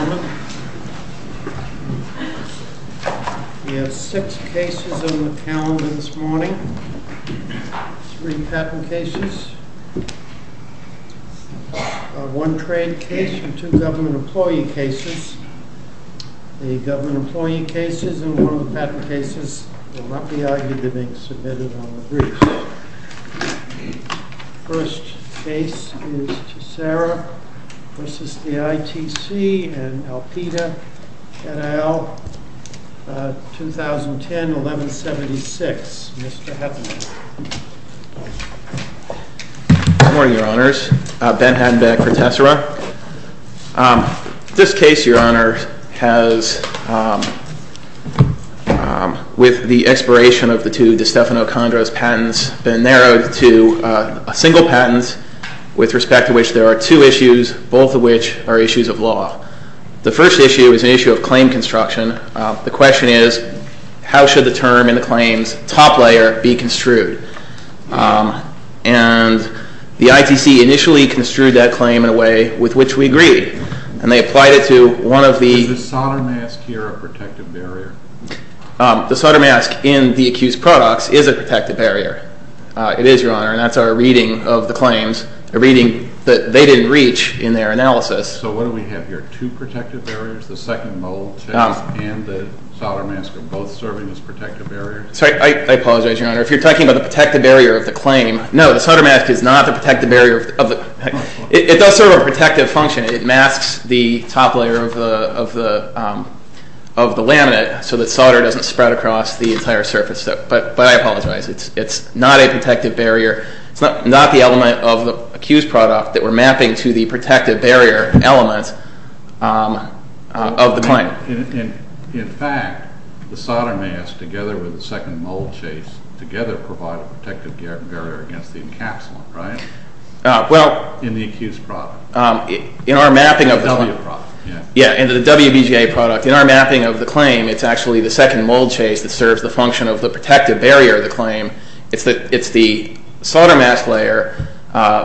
We have six cases on the calendar this morning. Three patent cases, one trade case, and two government employee cases. The government employee cases and one of the patent cases will not be argued to being submitted on the briefs. The first case is TESSERA v. ITC and Alpita et al., 2010-1176. Mr. Heffernan. Good morning, Your Honors. Ben Hattenbeck for TESSERA. This case, Your Honor, has, with the expiration of the two DeStefano-Condros patents, been narrowed to a single patent with respect to which there are two issues, both of which are issues of law. The first issue is an issue of claim construction. The question is, how should the term in the claim's top layer be construed? And the ITC initially construed that claim in a way with which we agreed, and they applied it to one of the… Is the solder mask here a protective barrier? The solder mask in the accused products is a protective barrier. It is, Your Honor, and that's our reading of the claims, a reading that they didn't reach in their analysis. So what do we have here? Two protective barriers? The second mold test and the solder mask are both serving as protective barriers? I apologize, Your Honor. If you're talking about the protective barrier of the claim… No, the solder mask is not the protective barrier of the… It does serve a protective function. It masks the top layer of the laminate so that solder doesn't spread across the entire surface. But I apologize. It's not a protective barrier. It's not the element of the accused product that we're mapping to the protective barrier element of the claim. In fact, the solder mask together with the second mold chase together provide a protective barrier against the encapsulant, right? Well… In the accused product. In our mapping of the… In the WBGA product, yeah. Yeah, in the WBGA product, in our mapping of the claim, it's actually the second mold chase that serves the function of the protective barrier of the claim. It's the solder mask layer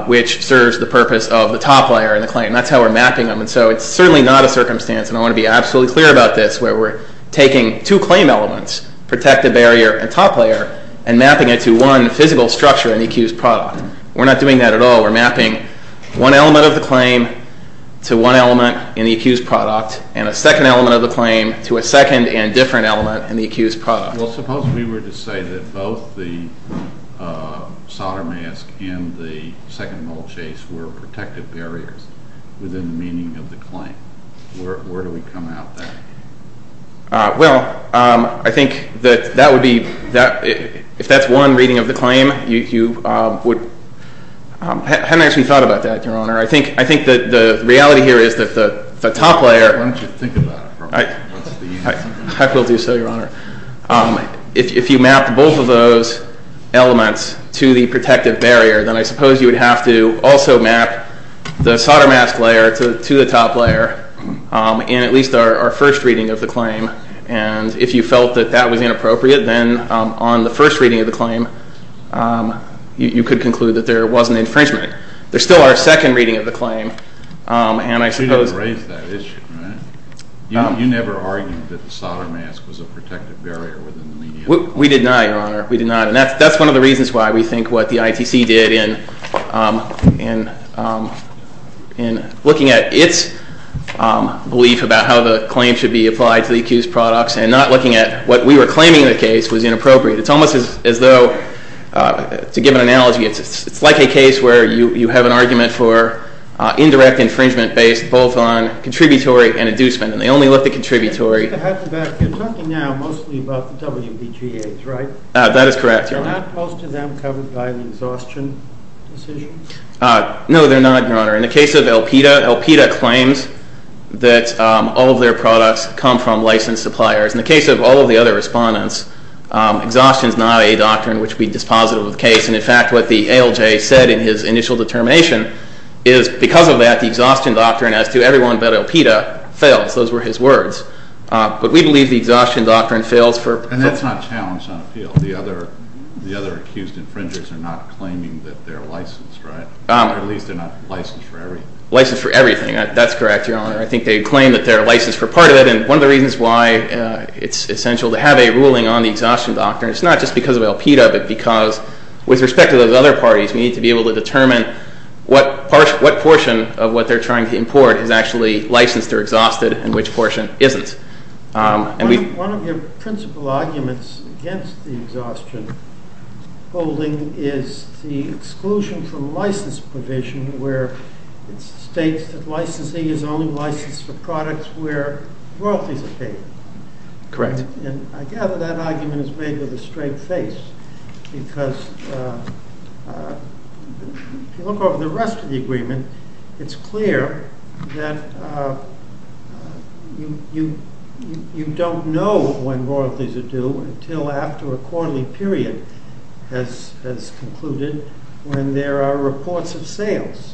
which serves the purpose of the top layer in the claim. And that's how we're mapping them, and so it's certainly not a circumstance, and I want to be absolutely clear about this, where we're taking two claim elements, protective barrier and top layer, and mapping it to one physical structure in the accused product. We're not doing that at all. We're mapping one element of the claim to one element in the accused product, and a second element of the claim to a second and different element in the accused product. Well, suppose we were to say that both the solder mask and the second mold chase were protective barriers within the meaning of the claim. Where do we come out of that? Well, I think that that would be… If that's one reading of the claim, you would… I haven't actually thought about that, Your Honor. I think the reality here is that the top layer… Why don't you think about it for a minute? I will do so, Your Honor. If you map both of those elements to the protective barrier, then I suppose you would have to also map the solder mask layer to the top layer in at least our first reading of the claim, and if you felt that that was inappropriate, then on the first reading of the claim, you could conclude that there was an infringement. There's still our second reading of the claim, and I suppose… You didn't raise that issue, right? You never argued that the solder mask was a protective barrier within the median. We did not, Your Honor. We did not. And that's one of the reasons why we think what the ITC did in looking at its belief about how the claim should be applied to the accused products and not looking at what we were claiming in the case was inappropriate. It's almost as though, to give an analogy, it's like a case where you have an argument for indirect infringement based both on contributory and inducement, and they only look at contributory. You're talking now mostly about the WBGAs, right? That is correct, Your Honor. They're not most of them covered by the exhaustion decision? No, they're not, Your Honor. In the case of Elpida, Elpida claims that all of their products come from licensed suppliers. In the case of all of the other respondents, exhaustion is not a doctrine which would be dispositive of the case, and in fact, what the ALJ said in his initial determination is, because of that, the exhaustion doctrine as to everyone but Elpida fails. Those were his words. But we believe the exhaustion doctrine fails for- And that's not challenged on appeal. The other accused infringers are not claiming that they're licensed, right? At least they're not licensed for everything. Licensed for everything. That's correct, Your Honor. I think they claim that they're licensed for part of it, and one of the reasons why it's essential to have a ruling on the exhaustion doctrine, it's not just because of Elpida, but because with respect to those other parties, we need to be able to determine what portion of what they're trying to import is actually licensed or exhausted and which portion isn't. One of your principal arguments against the exhaustion holding is the exclusion from license provision where it states that licensing is only licensed for products where royalties are paid. Correct. And I gather that argument is made with a straight face, because if you look over the rest of the agreement, it's clear that you don't know when royalties are due until after a quarterly period has concluded when there are reports of sales.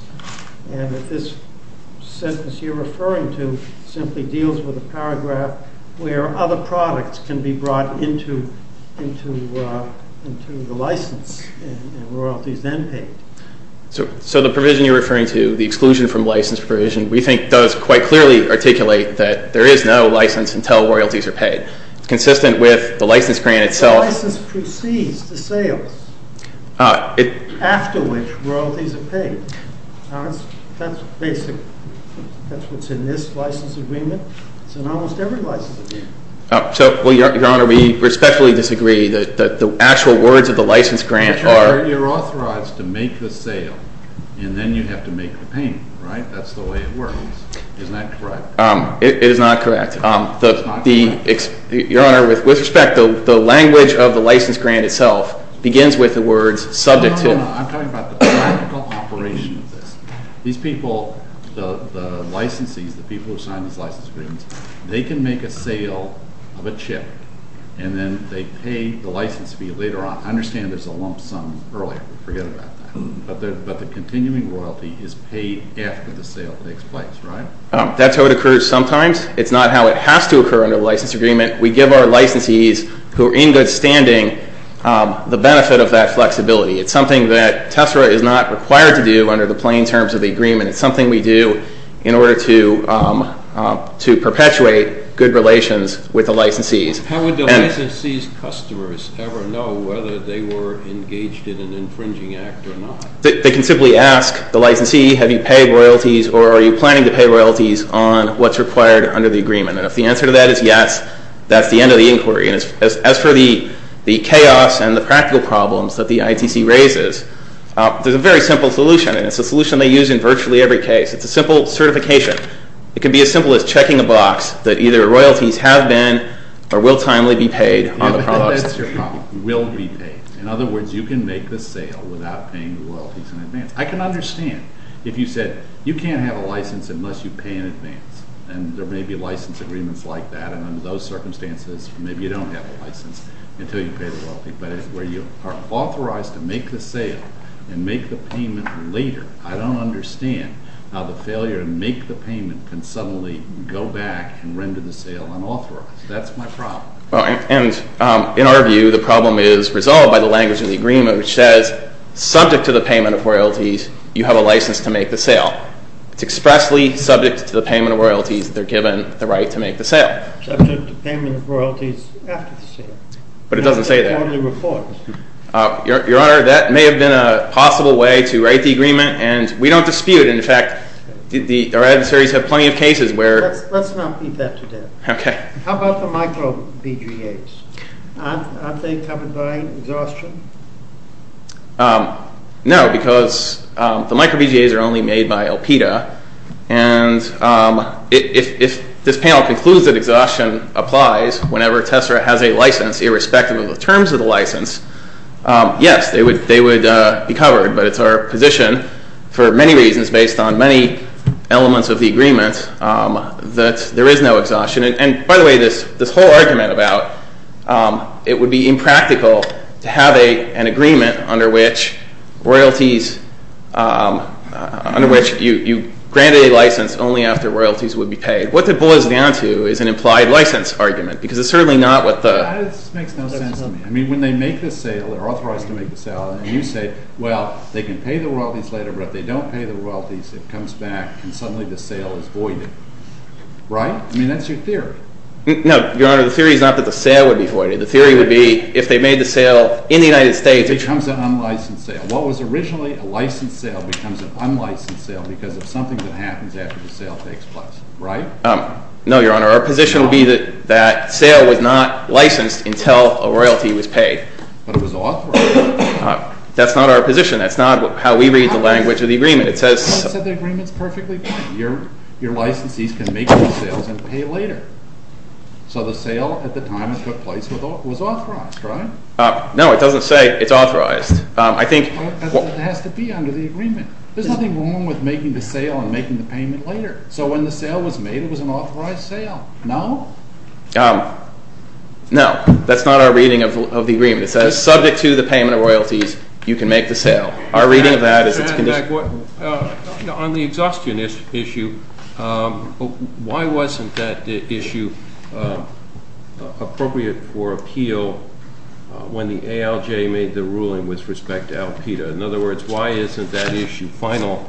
And if this sentence you're referring to simply deals with a paragraph where other products can be brought into the license and royalties then paid. So the provision you're referring to, the exclusion from license provision, we think does quite clearly articulate that there is no license until royalties are paid. It's consistent with the license grant itself. The license precedes the sales after which royalties are paid. That's basic. That's what's in this license agreement. It's in almost every license agreement. Your Honor, we respectfully disagree. The actual words of the license grant are- Your Honor, you're authorized to make the sale and then you have to make the payment, right? That's the way it works. Isn't that correct? It is not correct. Your Honor, with respect, the language of the license grant itself begins with the words subject to- No, no, no. I'm talking about the practical operation of this. These people, the licensees, the people who sign these license agreements, they can make a sale of a chip and then they pay the license fee later on. I understand there's a lump sum earlier. Forget about that. But the continuing royalty is paid after the sale takes place, right? That's how it occurs sometimes. It's not how it has to occur under the license agreement. We give our licensees who are in good standing the benefit of that flexibility. It's something that TESRA is not required to do under the plain terms of the agreement. It's something we do in order to perpetuate good relations with the licensees. How would the licensee's customers ever know whether they were engaged in an infringing act or not? They can simply ask the licensee, have you paid royalties or are you planning to pay royalties on what's required under the agreement? And if the answer to that is yes, that's the end of the inquiry. As for the chaos and the practical problems that the ITC raises, there's a very simple solution, and it's a solution they use in virtually every case. It's a simple certification. It can be as simple as checking a box that either royalties have been or will timely be paid on the products. That's your problem. Will be paid. In other words, you can make the sale without paying the royalties in advance. I can understand if you said you can't have a license unless you pay in advance, and there may be license agreements like that, and under those circumstances, maybe you don't have a license until you pay the royalties. But where you are authorized to make the sale and make the payment later, I don't understand how the failure to make the payment can suddenly go back and render the sale unauthorized. That's my problem. And in our view, the problem is resolved by the language of the agreement, which says, subject to the payment of royalties, you have a license to make the sale. It's expressly subject to the payment of royalties that they're given the right to make the sale. Yes. Subject to payment of royalties after the sale. But it doesn't say that. That's the only report. Your Honor, that may have been a possible way to write the agreement, and we don't dispute. In fact, our adversaries have plenty of cases where- Let's not beat that to death. Okay. How about the micro-BGAs? Aren't they covered by exhaustion? No, because the micro-BGAs are only made by Alpida, and if this panel concludes that exhaustion applies whenever Tessera has a license, irrespective of the terms of the license, yes, they would be covered. But it's our position, for many reasons based on many elements of the agreement, that there is no exhaustion. And by the way, this whole argument about it would be impractical to have an agreement under which you grant a license only after royalties would be paid. What the bull is down to is an implied license argument, because it's certainly not what the- This makes no sense to me. I mean, when they make the sale, they're authorized to make the sale, and you say, well, they can pay the royalties later, but if they don't pay the royalties, it comes back and suddenly the sale is voided. Right? I mean, that's your theory. No, Your Honor, the theory is not that the sale would be voided. The theory would be if they made the sale in the United States- It becomes an unlicensed sale. What was originally a licensed sale becomes an unlicensed sale because of something that happens after the sale takes place. Right? No, Your Honor. Our position would be that sale was not licensed until a royalty was paid. But it was authorized. That's not our position. That's not how we read the language of the agreement. It says- The agreement's perfectly fine. Your licensees can make the sales and pay later. So the sale at the time it took place was authorized, right? No, it doesn't say it's authorized. I think- It has to be under the agreement. There's nothing wrong with making the sale and making the payment later. So when the sale was made, it was an authorized sale. No? No. That's not our reading of the agreement. It says subject to the payment of royalties, you can make the sale. Our reading of that is- On the exhaustion issue, why wasn't that issue appropriate for appeal when the ALJ made the ruling with respect to Alpeda? In other words, why isn't that issue final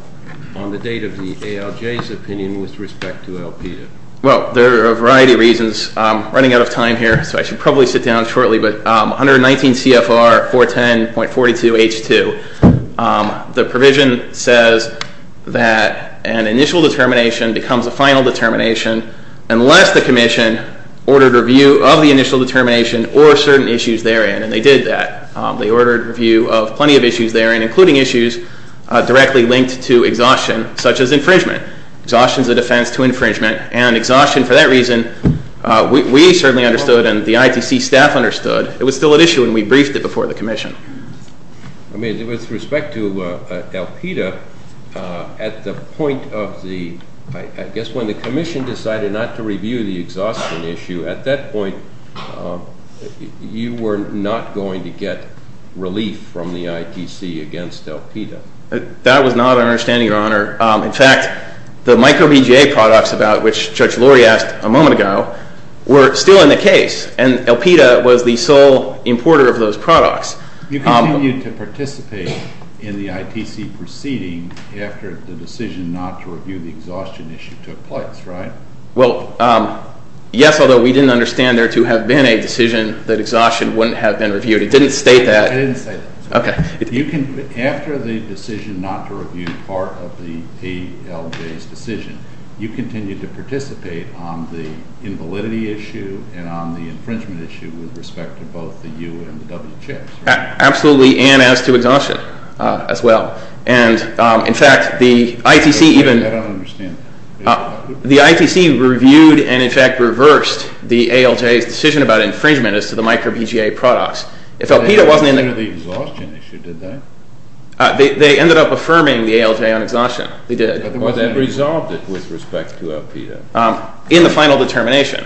on the date of the ALJ's opinion with respect to Alpeda? Well, there are a variety of reasons. I'm running out of time here, so I should probably sit down shortly. But 119 CFR 410.42H2, the provision says that an initial determination becomes a final determination unless the commission ordered review of the initial determination or certain issues therein. And they did that. They ordered review of plenty of issues therein, including issues directly linked to exhaustion, such as infringement. Exhaustion is a defense to infringement. And exhaustion, for that reason, we certainly understood and the ITC staff understood. It was still an issue, and we briefed it before the commission. I mean, with respect to Alpeda, at the point of the- I guess when the commission decided not to review the exhaustion issue, at that point, you were not going to get relief from the ITC against Alpeda. That was not our understanding, Your Honor. In fact, the microBGA products about which Judge Lurie asked a moment ago were still in the case, and Alpeda was the sole importer of those products. You continued to participate in the ITC proceeding after the decision not to review the exhaustion issue took place, right? Well, yes, although we didn't understand there to have been a decision that exhaustion wouldn't have been reviewed. It didn't state that. It didn't say that. Okay. After the decision not to review part of the ALJ's decision, you continued to participate on the invalidity issue and on the infringement issue with respect to both the U and the W chips, right? Absolutely, and as to exhaustion as well. And, in fact, the ITC even- I don't understand that. The ITC reviewed and, in fact, reversed the ALJ's decision about infringement as to the microBGA products. If Alpeda wasn't in the- They reviewed the exhaustion issue, didn't they? They ended up affirming the ALJ on exhaustion. They did. Or they resolved it with respect to Alpeda. In the final determination.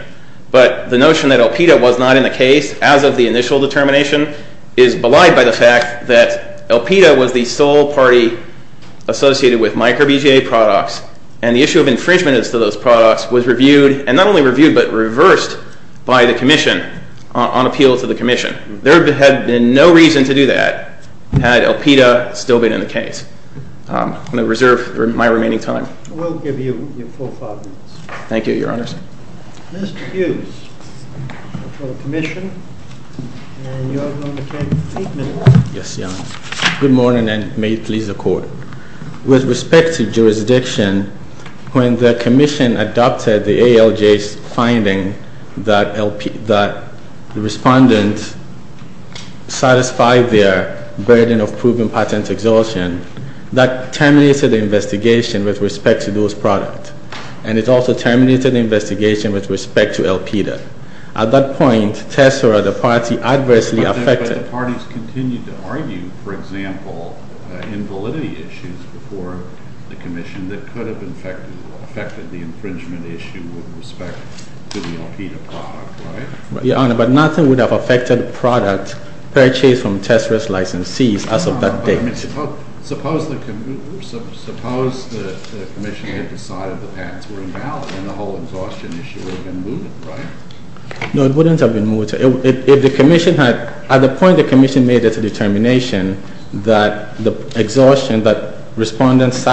But the notion that Alpeda was not in the case as of the initial determination is belied by the fact that Alpeda was the sole party associated with microBGA products, and the issue of infringement as to those products was reviewed, and not only reviewed, but reversed by the commission on appeal to the commission. There had been no reason to do that had Alpeda still been in the case. I'm going to reserve my remaining time. We'll give you your full five minutes. Thank you, Your Honors. Mr. Hughes, for the commission, and you're going to take eight minutes. Yes, Your Honor. Good morning, and may it please the Court. With respect to jurisdiction, when the commission adopted the ALJ's finding that the respondent satisfied their burden of proven patent exhaustion, that terminated the investigation with respect to those products. And it also terminated the investigation with respect to Alpeda. At that point, Tessera, the party, adversely affected- The commission that could have affected the infringement issue with respect to the Alpeda product, right? Your Honor, but nothing would have affected the product purchased from Tessera's licensees as of that date. Suppose the commission had decided the patents were invalid, and the whole exhaustion issue would have been moved, right? No, it wouldn't have been moved. At the point the commission made its determination that respondents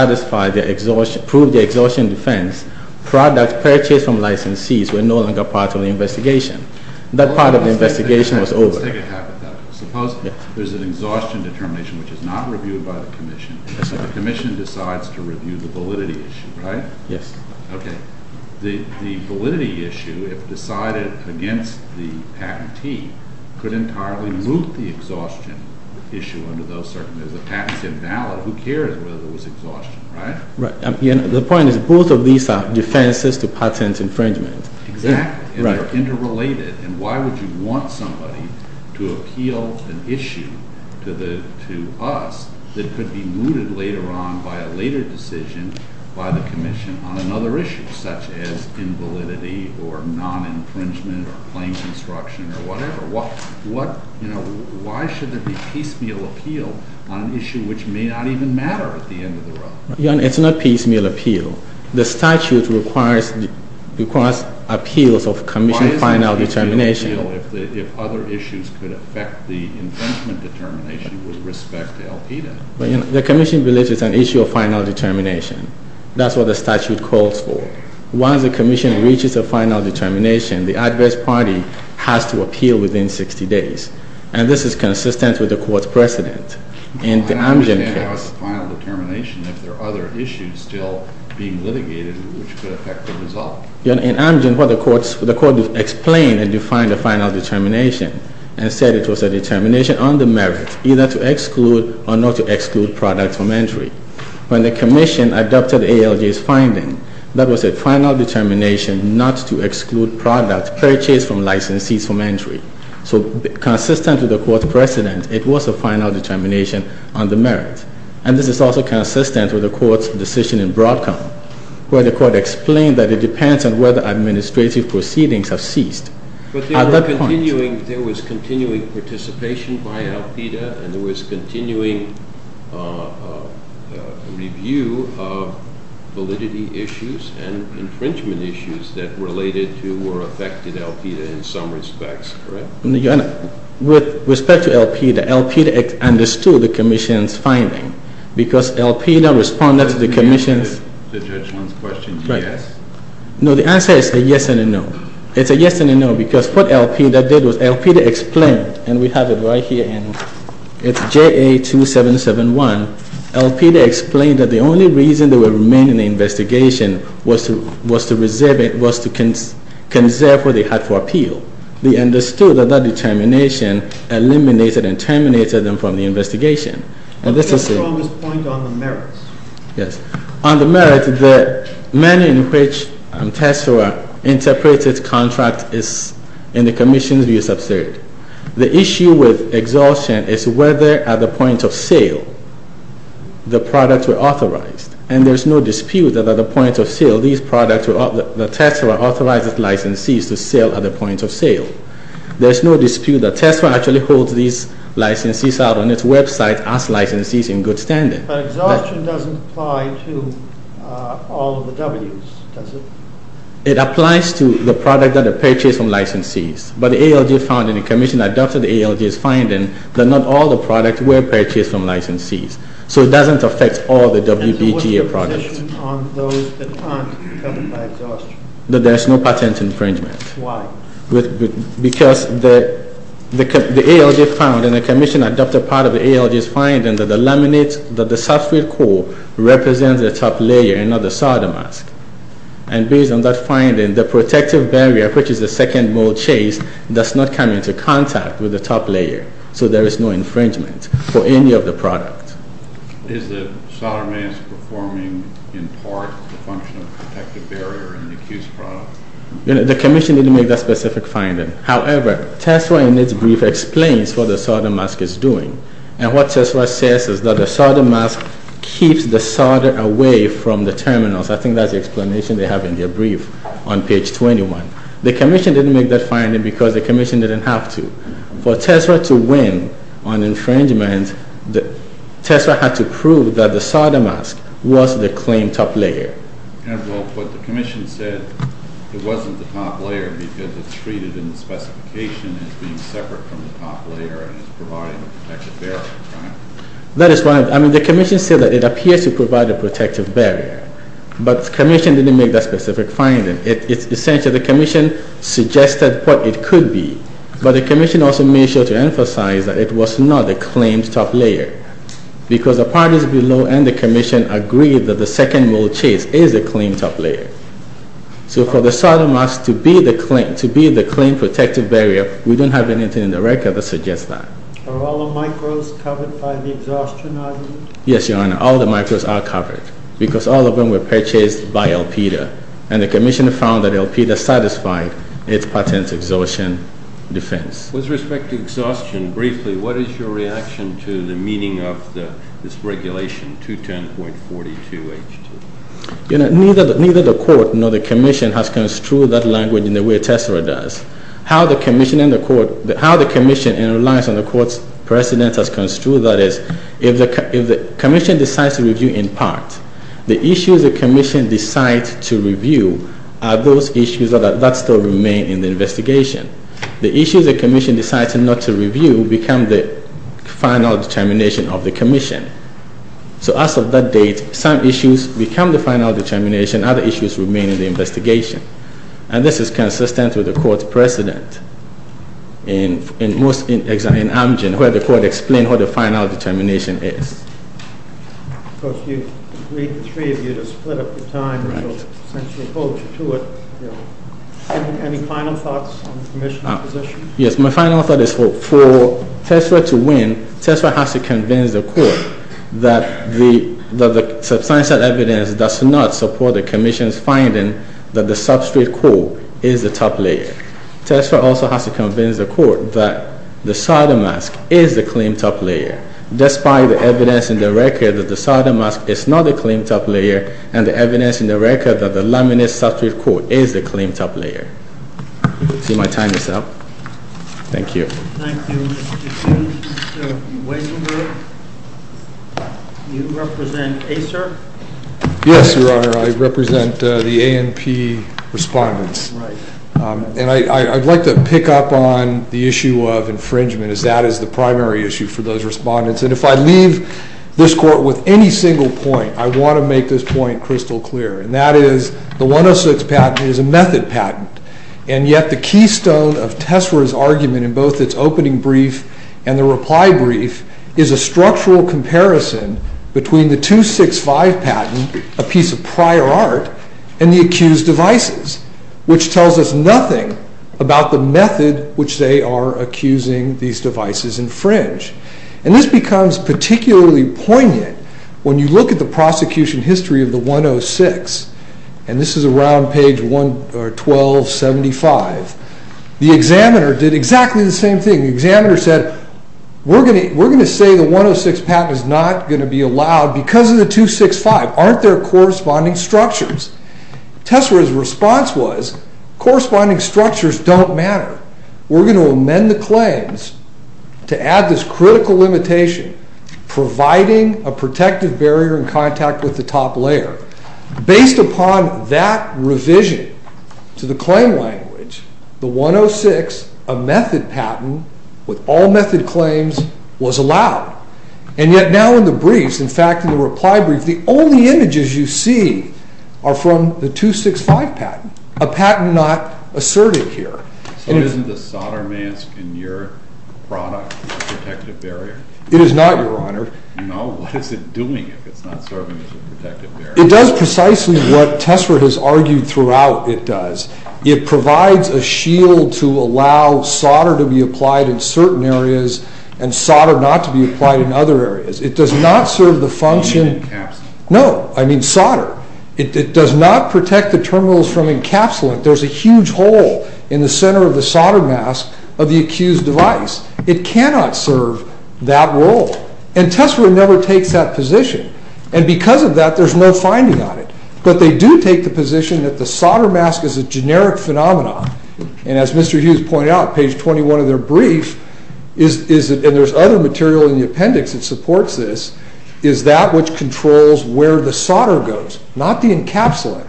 proved their exhaustion defense, products purchased from licensees were no longer part of the investigation. That part of the investigation was over. Let's take it haphazardly. Suppose there's an exhaustion determination which is not reviewed by the commission, and the commission decides to review the validity issue, right? Yes. Okay. The validity issue, if decided against the patentee, could entirely move the exhaustion issue under those circumstances. If the patent's invalid, who cares whether there was exhaustion, right? Right. The point is both of these are defenses to patent infringement. Exactly. And they're interrelated. And why would you want somebody to appeal an issue to us that could be mooted later on by a later decision by the commission on another issue, such as invalidity or non-infringement or claim construction or whatever? Why should there be piecemeal appeal on an issue which may not even matter at the end of the road? Your Honor, it's not piecemeal appeal. The statute requires appeals of commission final determination. Why is there piecemeal appeal if other issues could affect the infringement determination with respect to Al-Qaeda? The commission believes it's an issue of final determination. That's what the statute calls for. Once the commission reaches a final determination, the adverse party has to appeal within 60 days. And this is consistent with the Court's precedent in the Amgen case. Why not just final determination if there are other issues still being litigated which could affect the result? In Amgen, the Court explained and defined a final determination and said it was a determination on the merit either to exclude or not to exclude products from entry. When the commission adopted ALJ's finding, that was a final determination not to exclude products purchased from licensees from entry. So consistent with the Court's precedent, it was a final determination on the merit. And this is also consistent with the Court's decision in Broadcom where the Court explained that it depends on whether administrative proceedings have ceased. But there was continuing participation by Al-Qaeda and there was continuing review of validity issues and infringement issues that related to or affected Al-Qaeda in some respects, correct? With respect to Al-Qaeda, Al-Qaeda understood the commission's finding because Al-Qaeda responded to the commission's- Did you answer the judge's question, yes? No, the answer is a yes and a no. It's a yes and a no because what Al-Qaeda did was Al-Qaeda explained, and we have it right here, it's JA-2771. Al-Qaeda explained that the only reason they were remaining in the investigation was to conserve what they had for appeal. They understood that that determination eliminated and terminated them from the investigation. On the merits, the manner in which TESRA interprets its contract is, in the commission's view, absurd. The issue with exhaustion is whether, at the point of sale, the products were authorized. And there's no dispute that at the point of sale, the TESRA authorizes licensees to sell at the point of sale. There's no dispute that TESRA actually holds these licensees out on its website as licensees in good standing. But exhaustion doesn't apply to all of the W's, does it? It applies to the product that are purchased from licensees. But the ALJ found in the commission adopted ALJ's finding that not all the products were purchased from licensees. So it doesn't affect all the WBGA products. And so what's the position on those that aren't covered by exhaustion? That there's no patent infringement. Why? Because the ALJ found in the commission adopted part of the ALJ's finding that the substrate core represents the top layer and not the solder mask. And based on that finding, the protective barrier, which is the second mold chase, does not come into contact with the top layer. So there is no infringement for any of the products. Is the solder mask performing in part the function of a protective barrier in the accused product? The commission didn't make that specific finding. However, TESRA in its brief explains what the solder mask is doing. And what TESRA says is that the solder mask keeps the solder away from the terminals. I think that's the explanation they have in their brief on page 21. The commission didn't make that finding because the commission didn't have to. For TESRA to win on infringement, TESRA had to prove that the solder mask was the claimed top layer. And what the commission said, it wasn't the top layer because it's treated in the specification as being separate from the top layer and is providing a protective barrier. That is right. I mean, the commission said that it appears to provide a protective barrier. But the commission didn't make that specific finding. Essentially, the commission suggested what it could be. But the commission also made sure to emphasize that it was not the claimed top layer. Because the parties below and the commission agreed that the second mold chase is the claimed top layer. So for the solder mask to be the claimed protective barrier, we don't have anything in the record that suggests that. Are all the micros covered by the exhaustion item? Yes, Your Honor. All the micros are covered. Because all of them were purchased by Elpida. And the commission found that Elpida satisfied its patent exhaustion defense. With respect to exhaustion, briefly, what is your reaction to the meaning of this regulation 210.42H2? Neither the court nor the commission has construed that language in the way TESRA does. How the commission relies on the court's precedent has construed that is if the commission decides to review in part, the issues the commission decides to review are those issues that still remain in the investigation. The issues the commission decides not to review become the final determination of the commission. So as of that date, some issues become the final determination. Other issues remain in the investigation. And this is consistent with the court's precedent in Amgen where the court explained what the final determination is. Of course, you agreed, the three of you, to split up the time. Right. Since you're opposed to it, any final thoughts on the commission's position? Yes, my final thought is for TESRA to win, TESRA has to convince the court that the substantiated evidence does not support the commission's finding that the substrate core is the top layer. TESRA also has to convince the court that the cider mask is the claimed top layer. Despite the evidence in the record that the cider mask is not the claimed top layer and the evidence in the record that the laminate substrate core is the claimed top layer. See, my time is up. Thank you. Thank you, Mr. King. Mr. Weisenberg, you represent ACER? Yes, Your Honor. I represent the ANP respondents. Right. And I'd like to pick up on the issue of infringement as that is the primary issue for those respondents. And if I leave this court with any single point, I want to make this point crystal clear, and that is the 106 patent is a method patent. And yet the keystone of TESRA's argument in both its opening brief and the reply brief is a structural comparison between the 265 patent, a piece of prior art, and the accused devices, which tells us nothing about the method which they are accusing these devices infringe. And this becomes particularly poignant when you look at the prosecution history of the 106. And this is around page 1275. The examiner did exactly the same thing. The examiner said, we're going to say the 106 patent is not going to be allowed because of the 265. Aren't there corresponding structures? TESRA's response was, corresponding structures don't matter. We're going to amend the claims to add this critical limitation, providing a protective barrier in contact with the top layer. Based upon that revision to the claim language, the 106, a method patent with all method claims, was allowed. And yet now in the briefs, in fact in the reply brief, the only images you see are from the 265 patent, a patent not asserted here. So isn't the solder mask in your product a protective barrier? It is not, Your Honor. No? What is it doing if it's not serving as a protective barrier? It does precisely what TESRA has argued throughout it does. It provides a shield to allow solder to be applied in certain areas and solder not to be applied in other areas. It does not serve the function... No, I mean solder. It does not protect the terminals from encapsulant. There's a huge hole in the center of the solder mask of the accused device. It cannot serve that role. And TESRA never takes that position. And because of that, there's no finding on it. But they do take the position that the solder mask is a generic phenomenon. And as Mr. Hughes pointed out, page 21 of their brief, and there's other material in the appendix that supports this, is that which controls where the solder goes, not the encapsulant.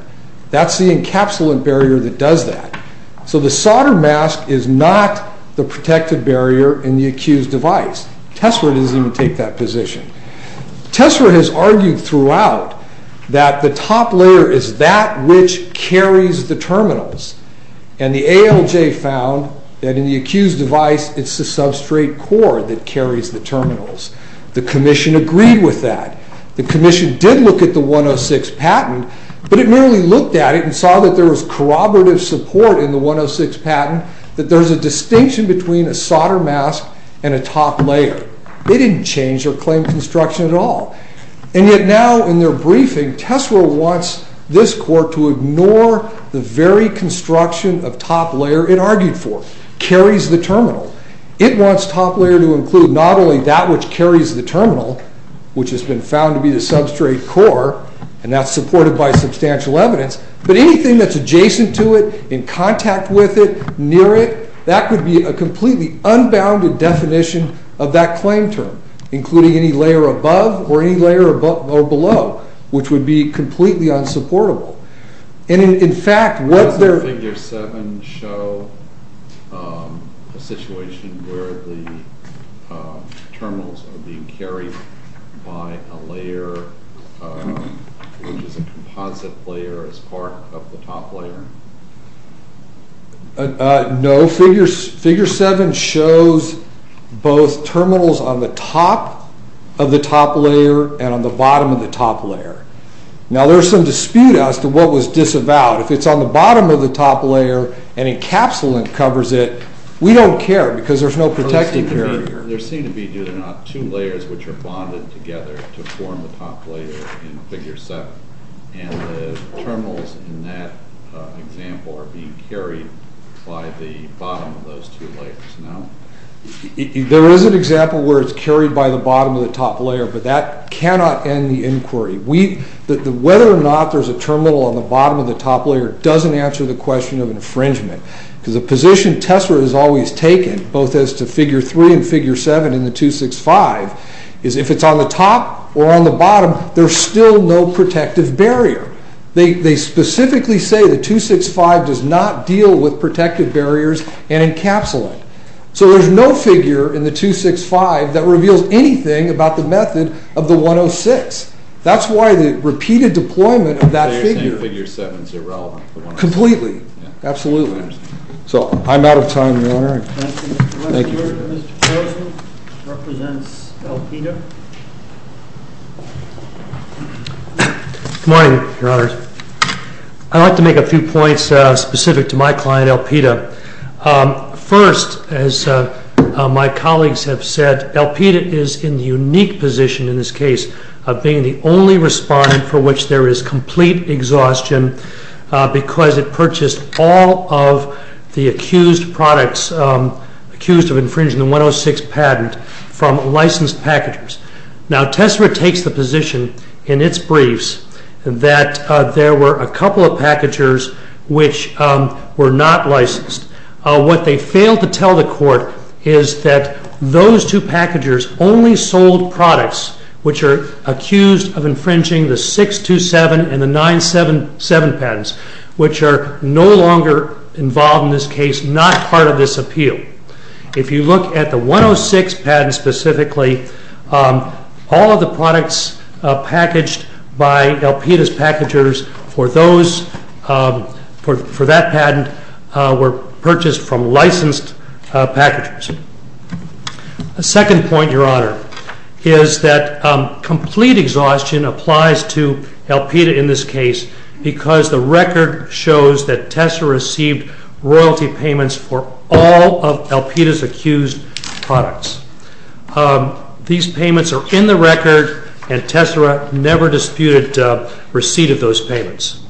That's the encapsulant barrier that does that. So the solder mask is not the protective barrier in the accused device. TESRA doesn't even take that position. TESRA has argued throughout that the top layer is that which carries the terminals. And the ALJ found that in the accused device, it's the substrate core that carries the terminals. The Commission agreed with that. The Commission did look at the 106 patent, but it merely looked at it and saw that there was corroborative support in the 106 patent, that there's a distinction between a solder mask and a top layer. They didn't change or claim construction at all. And yet now in their briefing, TESRA wants this court to ignore the very construction of top layer it argued for, carries the terminal. It wants top layer to include not only that which carries the terminal, which has been found to be the substrate core, and that's supported by substantial evidence, but anything that's adjacent to it, in contact with it, near it, that could be a completely unbounded definition of that claim term, including any layer above or any layer below, which would be completely unsupportable. And in fact, what they're... Does the figure 7 show a situation where the terminals are being carried by a layer, which is a composite layer as part of the top layer? No. Figure 7 shows both terminals on the top of the top layer and on the bottom of the top layer. Now there's some dispute as to what was disavowed. If it's on the bottom of the top layer and encapsulant covers it, we don't care because there's no protective barrier. There seem to be, do they not, two layers which are bonded together to form the top layer in figure 7, and the terminals in that example are being carried by the bottom of those two layers, no? There is an example where it's carried by the bottom of the top layer, but that cannot end the inquiry. Whether or not there's a terminal on the bottom of the top layer doesn't answer the question of infringement, because the position Tessera has always taken, both as to figure 3 and figure 7 in the 265, is if it's on the top or on the bottom, there's still no protective barrier. They specifically say the 265 does not deal with protective barriers and encapsulate. So there's no figure in the 265 that reveals anything about the method of the 106. That's why the repeated deployment of that figure... So, I'm out of time, Your Honor. Thank you. The next juror, Mr. Carlson, represents El Pida. Good morning, Your Honors. I'd like to make a few points specific to my client, El Pida. First, as my colleagues have said, El Pida is in the unique position in this case of being the only respondent for which there is complete exhaustion because it purchased all of the accused products, accused of infringing the 106 patent, from licensed packagers. Now, Tessera takes the position in its briefs that there were a couple of packagers which were not licensed. What they failed to tell the court is that those two packagers only sold products which are accused of infringing the 627 and the 977 patents, which are no longer involved in this case, not part of this appeal. If you look at the 106 patent specifically, all of the products packaged by El Pida's packagers for that patent were purchased from licensed packagers. A second point, Your Honor, is that complete exhaustion applies to El Pida in this case because the record shows that Tessera received royalty payments for all of El Pida's accused products. These payments are in the record and Tessera never disputed receipt of those payments.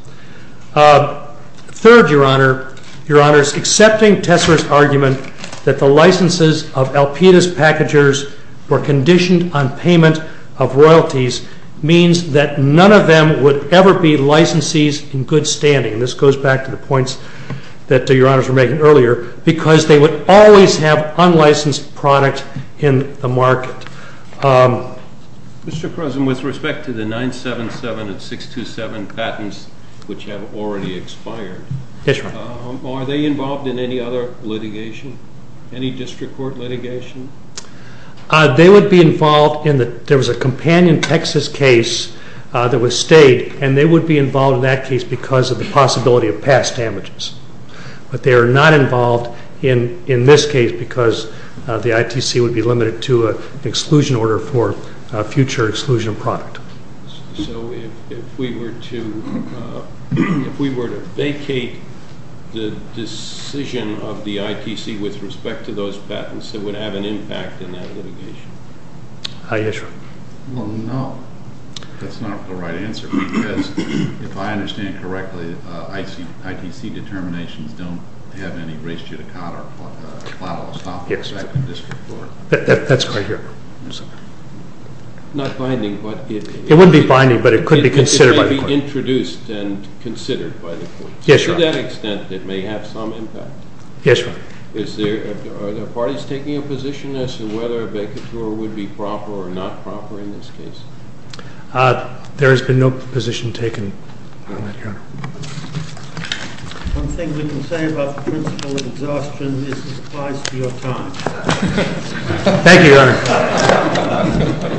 Third, Your Honor, Your Honor's accepting Tessera's argument that the licenses of El Pida's packagers were conditioned on payment of royalties means that none of them would ever be licensees in good standing. This goes back to the points that Your Honors were making earlier because they would always have unlicensed product in the market. Mr. Croson, with respect to the 977 and 627 patents which have already expired, are they involved in any other litigation, any district court litigation? They would be involved in the, there was a companion Texas case that was stayed and they would be involved in that case because of the possibility of past damages. But they are not involved in this case because the ITC would be limited to an exclusion order for future exclusion of product. So if we were to vacate the decision of the ITC with respect to those patents, it would have an impact in that litigation? Aye, yes, Your Honor. Well, no, that's not the right answer because if I understand correctly, ITC determinations don't have any race judicata or platilus documents back in the district court. That's right here. Not binding, but it- It wouldn't be binding, but it could be considered by the court. It could be introduced and considered by the court. Yes, Your Honor. To that extent, it may have some impact. Yes, Your Honor. Is there, are there parties taking a position as to whether a vacature would be proper or not proper in this case? There has been no position taken on that, Your Honor. One thing we can say about the principle of exhaustion is it applies to your time. Thank you, Your Honor.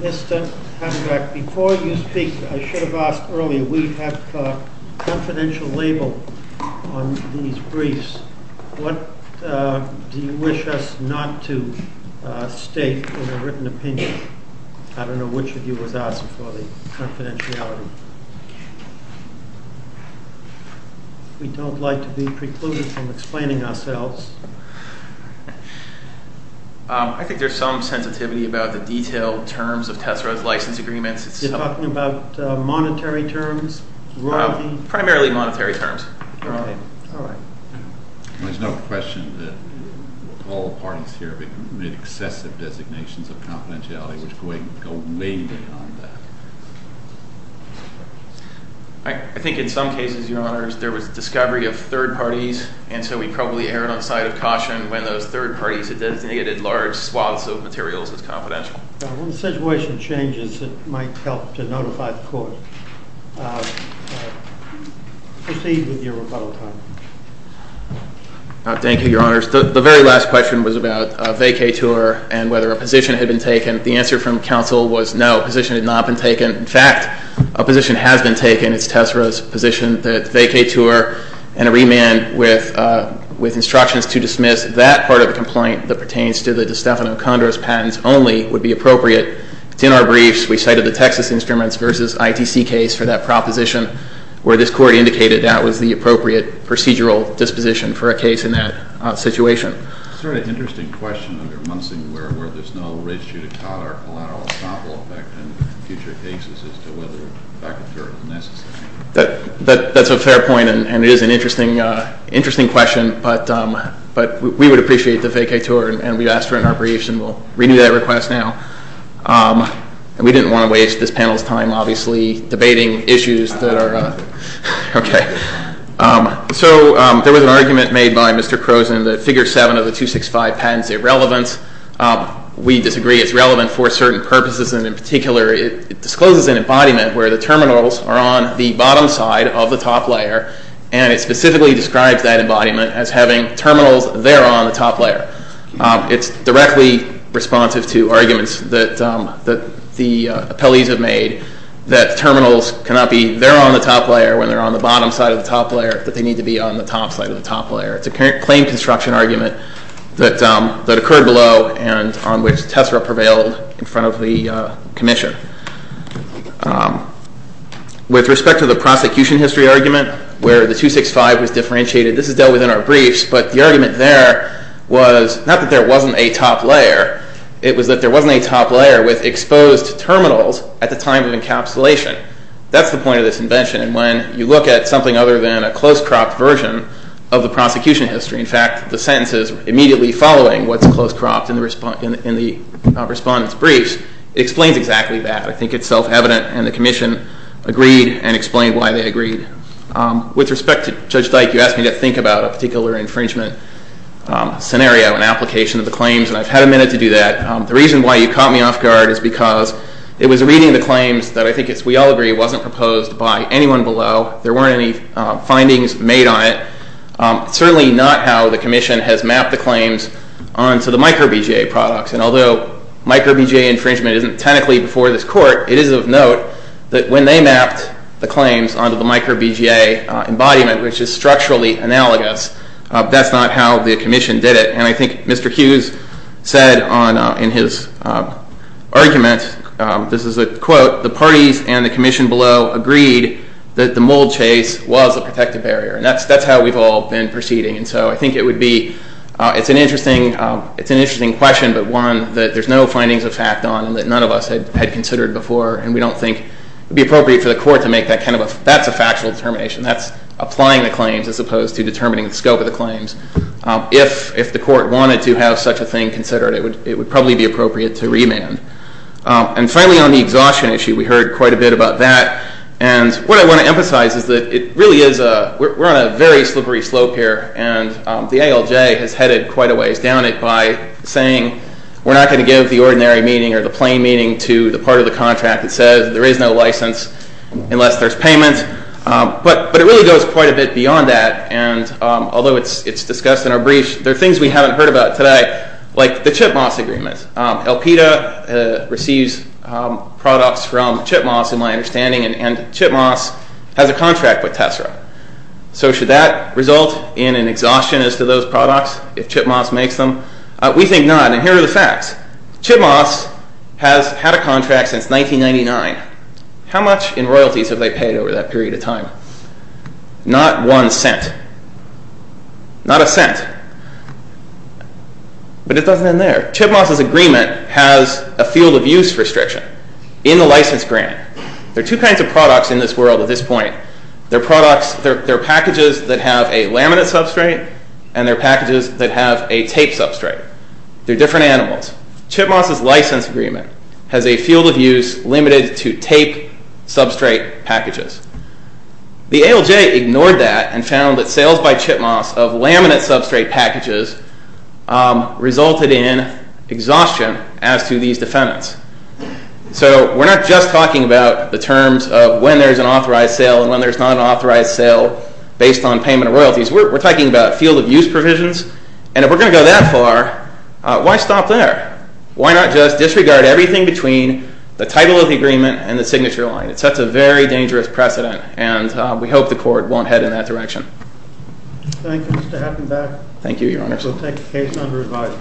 Mr. Hamdrak, before you speak, I should have asked earlier, we have a confidential label on these briefs. What do you wish us not to state in a written opinion? I don't know which of you was asking for the confidentiality. We don't like to be precluded from explaining ourselves. I think there's some sensitivity about the detailed terms of Tessera's license agreements. You're talking about monetary terms, royalty? Primarily monetary terms. All right. There's no question that all the parties here made excessive designations of confidentiality, which go way beyond that. I think in some cases, Your Honors, there was discovery of third parties, and so we probably erred on the side of caution when those third parties had designated large swaths of materials as confidential. When the situation changes, it might help to notify the court. Proceed with your rebuttal time. Thank you, Your Honors. The very last question was about a vacature and whether a position had been taken. The answer from counsel was no, a position had not been taken. In fact, a position has been taken. It's Tessera's position that a vacature and a remand with instructions to dismiss that part of the complaint that pertains to the DeStefano-Condros patents only would be appropriate. It's in our briefs. We cited the Texas Instruments v. ITC case for that proposition, where this court indicated that was the appropriate procedural disposition for a case in that situation. Is there an interesting question under Munsing where there's no race judicata or collateral establishment effect in future cases as to whether a vacature is necessary? That's a fair point, and it is an interesting question, but we would appreciate the vacature, and we've asked for it in our briefs, and we'll renew that request now. We didn't want to waste this panel's time, obviously, debating issues that are... So there was an argument made by Mr. Croson that Figure 7 of the 265 patent is irrelevant. We disagree. It's relevant for certain purposes, and in particular, it discloses an embodiment where the terminals are on the bottom side of the top layer, and it specifically describes that embodiment as having terminals there on the top layer. It's directly responsive to arguments that the appellees have made that terminals cannot be there on the top layer when they're on the bottom side of the top layer, that they need to be on the top side of the top layer. It's a claim construction argument that occurred below and on which Tessera prevailed in front of the commission. With respect to the prosecution history argument where the 265 was differentiated, this is dealt with in our briefs, but the argument there was not that there wasn't a top layer. It was that there wasn't a top layer with exposed terminals at the time of encapsulation. That's the point of this invention, and when you look at something other than a close-cropped version of the prosecution history, in fact, the sentences immediately following what's close-cropped in the respondent's briefs, it explains exactly that. I think it's self-evident, and the commission agreed and explained why they agreed. With respect to Judge Dyke, you asked me to think about a particular infringement scenario and application of the claims, and I've had a minute to do that. The reason why you caught me off guard is because it was reading the claims that I think, as we all agree, wasn't proposed by anyone below. There weren't any findings made on it. It's certainly not how the commission has mapped the claims onto the microBGA products, and although microBGA infringement isn't technically before this court, it is of note that when they mapped the claims onto the microBGA embodiment, which is structurally analogous, that's not how the commission did it, and I think Mr. Hughes said in his argument, this is a quote, the parties and the commission below agreed that the mold chase was a protective barrier, and that's how we've all been proceeding. And so I think it's an interesting question, but one that there's no findings of fact on and that none of us had considered before, and we don't think it would be appropriate for the court to make that kind of a factual determination. That's applying the claims as opposed to determining the scope of the claims. If the court wanted to have such a thing considered, it would probably be appropriate to remand. And finally on the exhaustion issue, we heard quite a bit about that, and what I want to emphasize is that it really is a, we're on a very slippery slope here, and the ALJ has headed quite a ways down it by saying we're not going to give the ordinary meaning or the plain meaning to the part of the contract that says there is no license unless there's payment, but it really goes quite a bit beyond that, and although it's discussed in our brief, there are things we haven't heard about today, like the CHIPMAS agreement. Alpida receives products from CHIPMAS in my understanding, and CHIPMAS has a contract with Tessera. So should that result in an exhaustion as to those products if CHIPMAS makes them? We think not, and here are the facts. CHIPMAS has had a contract since 1999. How much in royalties have they paid over that period of time? Not one cent, not a cent, but it doesn't end there. CHIPMAS' agreement has a field of use restriction in the license grant. There are two kinds of products in this world at this point. There are products, there are packages that have a laminate substrate, and there are packages that have a tape substrate. They're different animals. CHIPMAS' license agreement has a field of use limited to tape substrate packages. The ALJ ignored that and found that sales by CHIPMAS of laminate substrate packages resulted in exhaustion as to these defendants. So we're not just talking about the terms of when there's an authorized sale and when there's not an authorized sale based on payment of royalties. We're talking about field of use provisions, and if we're going to go that far, why stop there? Why not just disregard everything between the title of the agreement and the signature line? It sets a very dangerous precedent, and we hope the court won't head in that direction. Thank you, Mr. Hattenbeck. Thank you, Your Honors. We'll take the case under review.